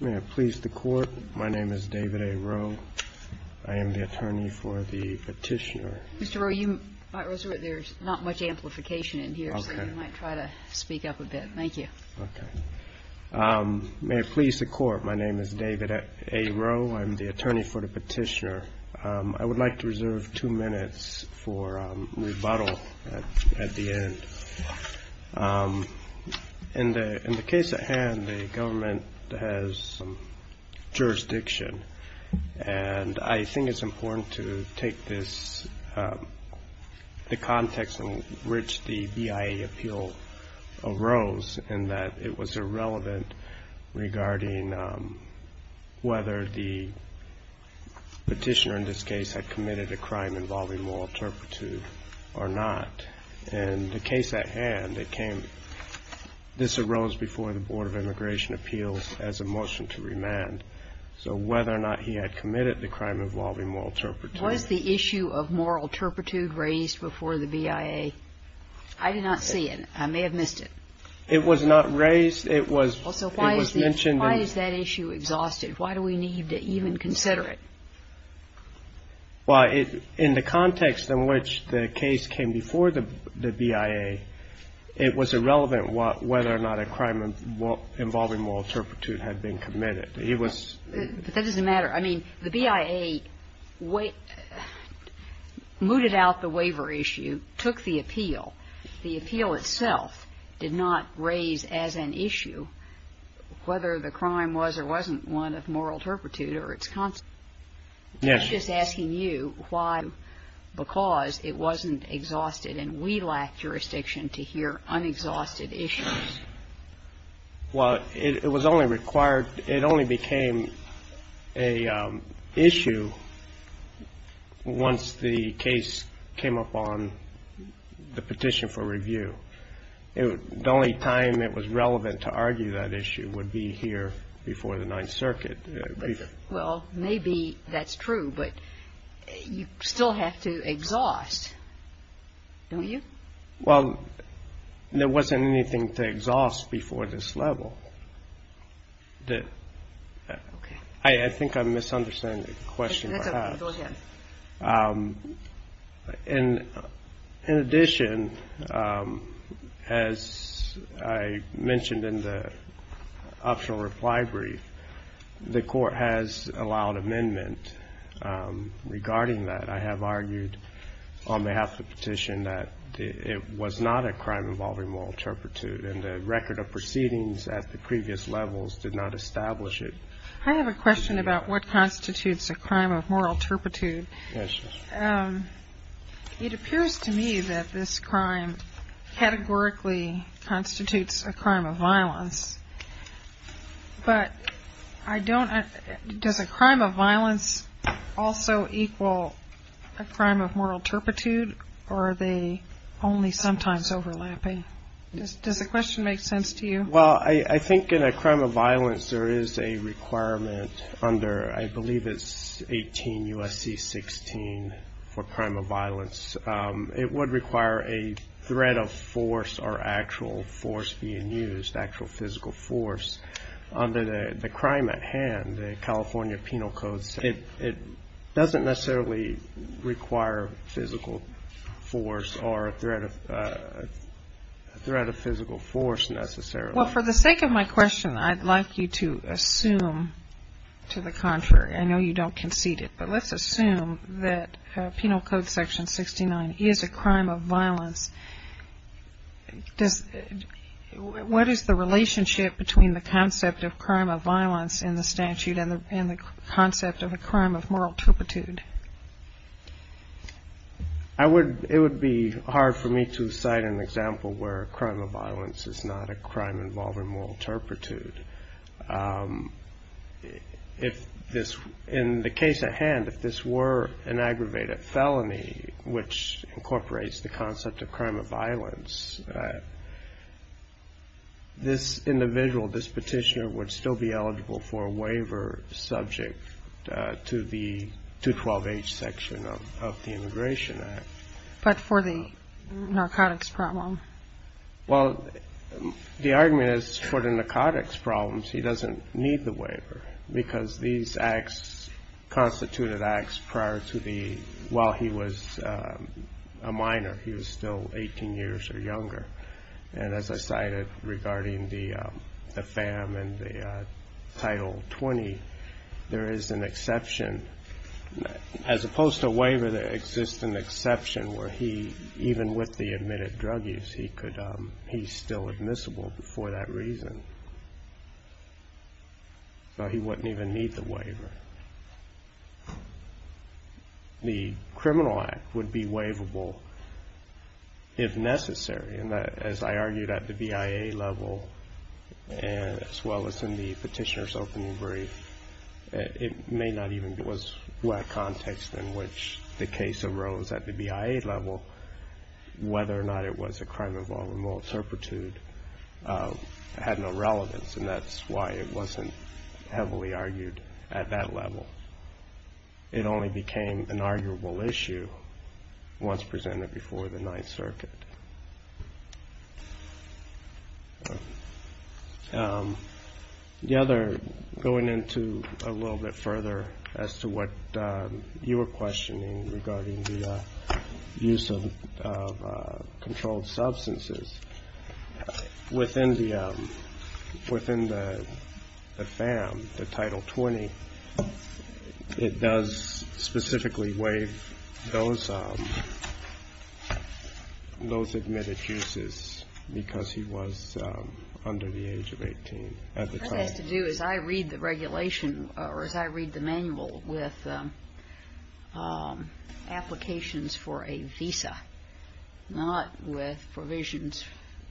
May I please the Court? My name is David A. Rowe. I am the attorney for the petitioner. Mr. Rowe, there's not much amplification in here, so you might try to speak up a bit. Thank you. May I please the Court? My name is David A. Rowe. I'm the attorney for the petitioner. I would like to reserve two minutes for rebuttal at the end. In the case at hand, the government has jurisdiction. And I think it's important to take this, the context in which the BIA appeal arose, in that it was irrelevant regarding whether the petitioner in this case had committed a crime involving moral turpitude or not. In the case at hand, this arose before the Board of Immigration Appeals as a motion to remand. So whether or not he had committed the crime involving moral turpitude. Was the issue of moral turpitude raised before the BIA? I did not see it. I may have missed it. It was not raised. It was mentioned. Why is that issue exhausted? Why do we need to even consider it? Well, in the context in which the case came before the BIA, it was irrelevant whether or not a crime involving moral turpitude had been committed. It was ---- But that doesn't matter. I mean, the BIA mooted out the waiver issue, took the appeal. The appeal itself did not raise as an issue whether the crime was or wasn't one of moral turpitude or its consequence. Yes. I'm just asking you why, because it wasn't exhausted and we lack jurisdiction to hear unexhausted issues. Well, it was only required ---- it only became an issue once the case came upon the petition for review. The only time it was relevant to argue that issue would be here before the Ninth Circuit. Well, maybe that's true, but you still have to exhaust, don't you? Well, there wasn't anything to exhaust before this level. Okay. I think I'm misunderstanding the question perhaps. That's okay. Go ahead. In addition, as I mentioned in the optional reply brief, the Court has allowed amendment regarding that. I have argued on behalf of the petition that it was not a crime involving moral turpitude, and the record of proceedings at the previous levels did not establish it. I have a question about what constitutes a crime of moral turpitude. Yes. It appears to me that this crime categorically constitutes a crime of violence, but I don't ---- does a crime of violence also equal a crime of moral turpitude, or are they only sometimes overlapping? Does the question make sense to you? Well, I think in a crime of violence there is a requirement under, I believe it's 18 U.S.C. 16 for crime of violence. It would require a threat of force or actual force being used, actual physical force. Under the crime at hand, the California Penal Code, it doesn't necessarily require physical force or a threat of physical force necessarily. Well, for the sake of my question, I'd like you to assume to the contrary. I know you don't concede it, but let's assume that Penal Code Section 69 is a crime of violence. What is the relationship between the concept of crime of violence in the statute and the concept of a crime of moral turpitude? I would ---- it would be hard for me to cite an example where a crime of violence is not a crime involving moral turpitude. If this ---- in the case at hand, if this were an aggravated felony, which incorporates the concept of crime of violence, this individual, this petitioner would still be eligible for a waiver subject to the 212H section of the Immigration Act. But for the narcotics problem? Well, the argument is for the narcotics problems he doesn't need the waiver because these acts constituted acts prior to the ---- while he was a minor, he was still 18 years or younger. And as I cited regarding the FAM and the Title 20, there is an exception. As opposed to a waiver, there exists an exception where he, even with the admitted drug use, he could ---- he's still admissible for that reason. So he wouldn't even need the waiver. The criminal act would be waivable if necessary. And as I argued at the BIA level, as well as in the petitioner's opening brief, it may not even ---- it was black context in which the case arose at the BIA level, whether or not it was a crime of all remorse, herpetude, had no relevance. And that's why it wasn't heavily argued at that level. It only became an arguable issue once presented before the Ninth Circuit. The other, going into a little bit further as to what you were questioning regarding the use of controlled substances, within the FAM, the Title 20, it does specifically waive those admitted uses because he was under the age of 18 at the time. What it has to do, as I read the regulation, or as I read the manual, with applications for a visa, not with provisions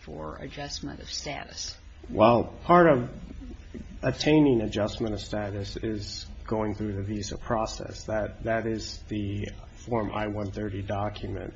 for adjustment of status. Well, part of attaining adjustment of status is going through the visa process. That is the Form I-130 document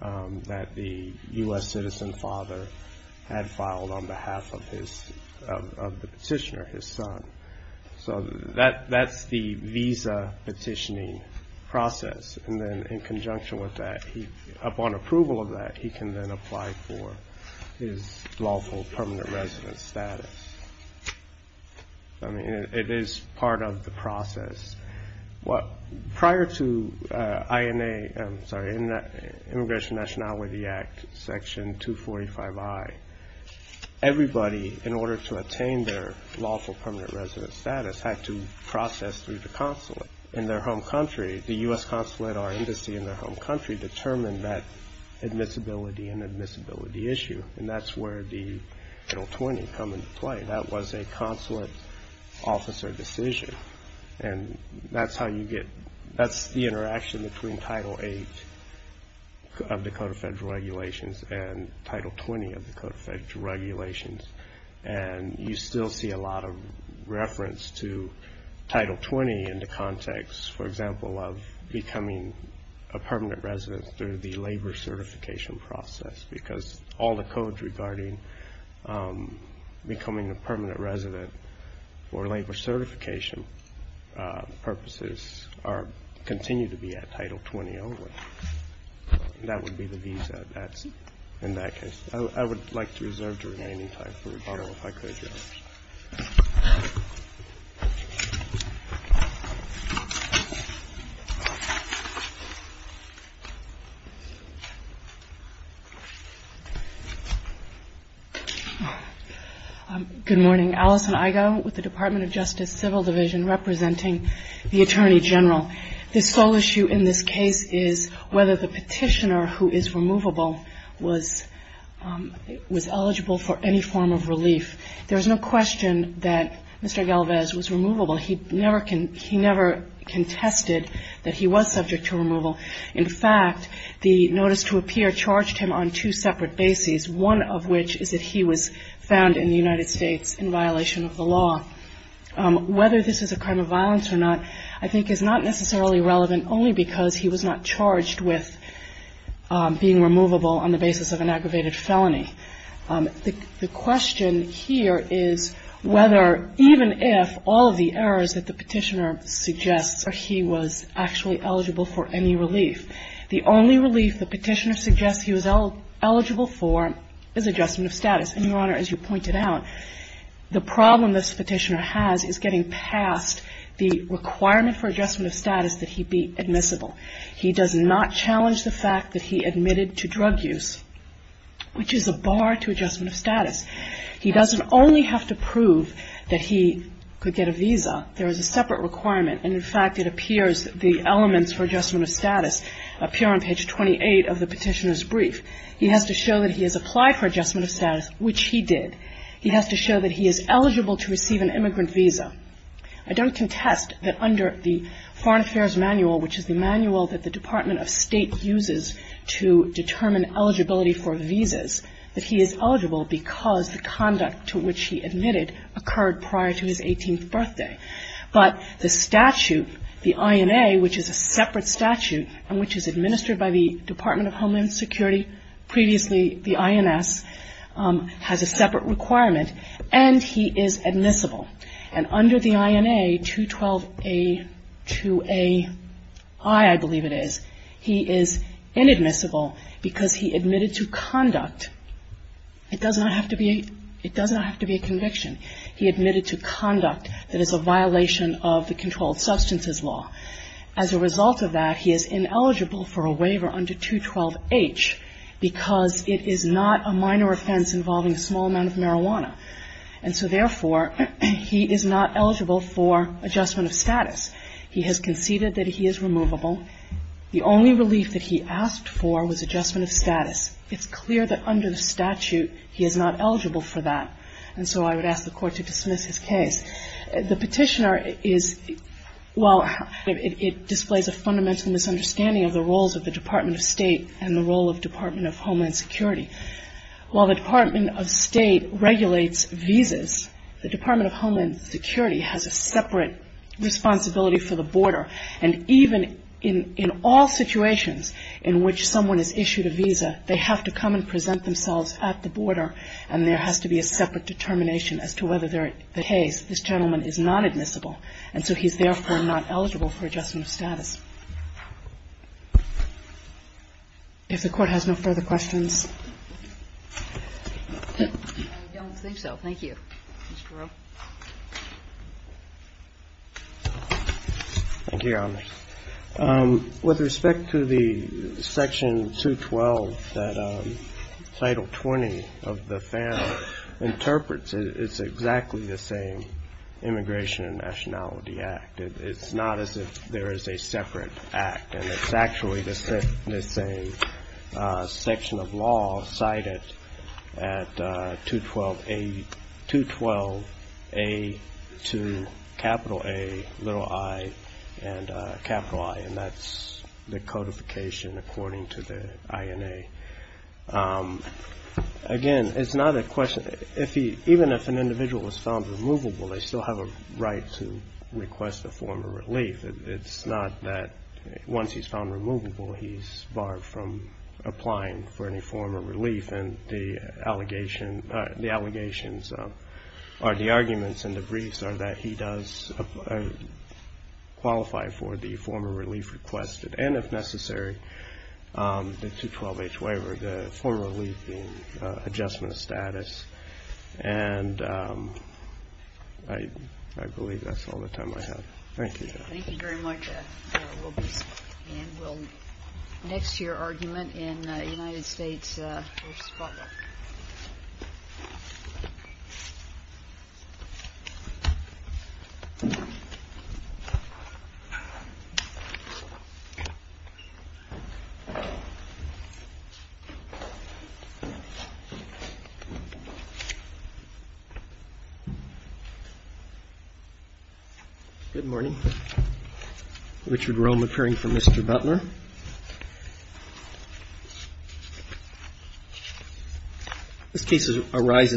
that the U.S. citizen father had filed on behalf of the petitioner, his son. So that's the visa petitioning process. And then in conjunction with that, upon approval of that, he can then apply for his lawful permanent residence status. I mean, it is part of the process. Prior to INA, I'm sorry, Immigration Nationality Act, Section 245I, everybody, in order to attain their lawful permanent residence status, had to process through the consulate in their home country. The U.S. consulate or embassy in their home country determined that admissibility and admissibility issue. And that's where the Title 20 come into play. That was a consulate officer decision. And that's the interaction between Title VIII of the Code of Federal Regulations and Title 20 of the Code of Federal Regulations. And you still see a lot of reference to Title 20 in the context, for example, of becoming a permanent resident through the labor certification process because all the codes regarding becoming a permanent resident for labor certification purposes continue to be at Title 20 only. That would be the visa that's in that case. I would like to reserve the remaining time for rebuttal, if I could. Good morning. Alison Igoe with the Department of Justice Civil Division representing the Attorney General. The sole issue in this case is whether the petitioner who is removable was eligible for any form of relief. There is no question that Mr. Galvez was removable. He never contested that he was subject to removal. In fact, the notice to appear charged him on two separate bases, one of which is that he was found in the United States in violation of the law. Whether this is a crime of violence or not, I think is not necessarily relevant only because he was not charged with being removable on the basis of an aggravated felony. The question here is whether, even if, all of the errors that the petitioner suggests are he was actually eligible for any relief. The only relief the petitioner suggests he was eligible for is adjustment of status. And, Your Honor, as you pointed out, the problem this petitioner has is getting past the requirement for adjustment of status that he be admissible. He does not challenge the fact that he admitted to drug use, which is a bar to adjustment of status. He doesn't only have to prove that he could get a visa. There is a separate requirement. And, in fact, it appears the elements for adjustment of status appear on page 28 of the petitioner's brief. He has to show that he has applied for adjustment of status, which he did. He has to show that he is eligible to receive an immigrant visa. I don't contest that under the Foreign Affairs Manual, which is the manual that the Department of State uses to determine eligibility for visas, that he is eligible because the conduct to which he admitted occurred prior to his 18th birthday. But the statute, the INA, which is a separate statute and which is administered by the Department of Homeland Security, previously the INS, has a separate requirement. And he is admissible. And under the INA, 212a2aI, I believe it is, he is inadmissible because he admitted to conduct. It does not have to be a conviction. He admitted to conduct that is a violation of the controlled substances law. As a result of that, he is ineligible for a waiver under 212h because it is not a minor offense involving a small amount of marijuana. And so, therefore, he is not eligible for adjustment of status. He has conceded that he is removable. The only relief that he asked for was adjustment of status. It's clear that under the statute, he is not eligible for that. And so I would ask the Court to dismiss his case. The petitioner is, while it displays a fundamental misunderstanding of the roles of the Department of State and the role of Department of Homeland Security, while the Department of State regulates visas, the Department of Homeland Security has a separate responsibility for the border. And even in all situations in which someone is issued a visa, they have to come and present themselves at the border, and there has to be a separate determination as to whether the case, this gentleman, is not admissible. And so he's, therefore, not eligible for adjustment of status. If the Court has no further questions. I don't think so. Thank you. Mr. Rowe. Thank you, Your Honors. With respect to the Section 212 that Title 20 of the FAM interprets, it's exactly the same Immigration and Nationality Act. It's not as if there is a separate act. And it's actually the same section of law cited at 212A to capital A, little i, and capital I, and that's the codification according to the INA. Again, it's not a question. Even if an individual is found removable, they still have a right to request a form of relief. It's not that once he's found removable, he's barred from applying for any form of relief. And the allegations or the arguments in the briefs are that he does qualify for the form of relief requested, and if necessary, the 212H waiver, the form of relief being adjustment of status. And I believe that's all the time I have. Thank you, Your Honor. Thank you very much. And we'll next to your argument in the United States first follow-up. Good morning. Richard Rome, appearing for Mr. Butler. This case arises.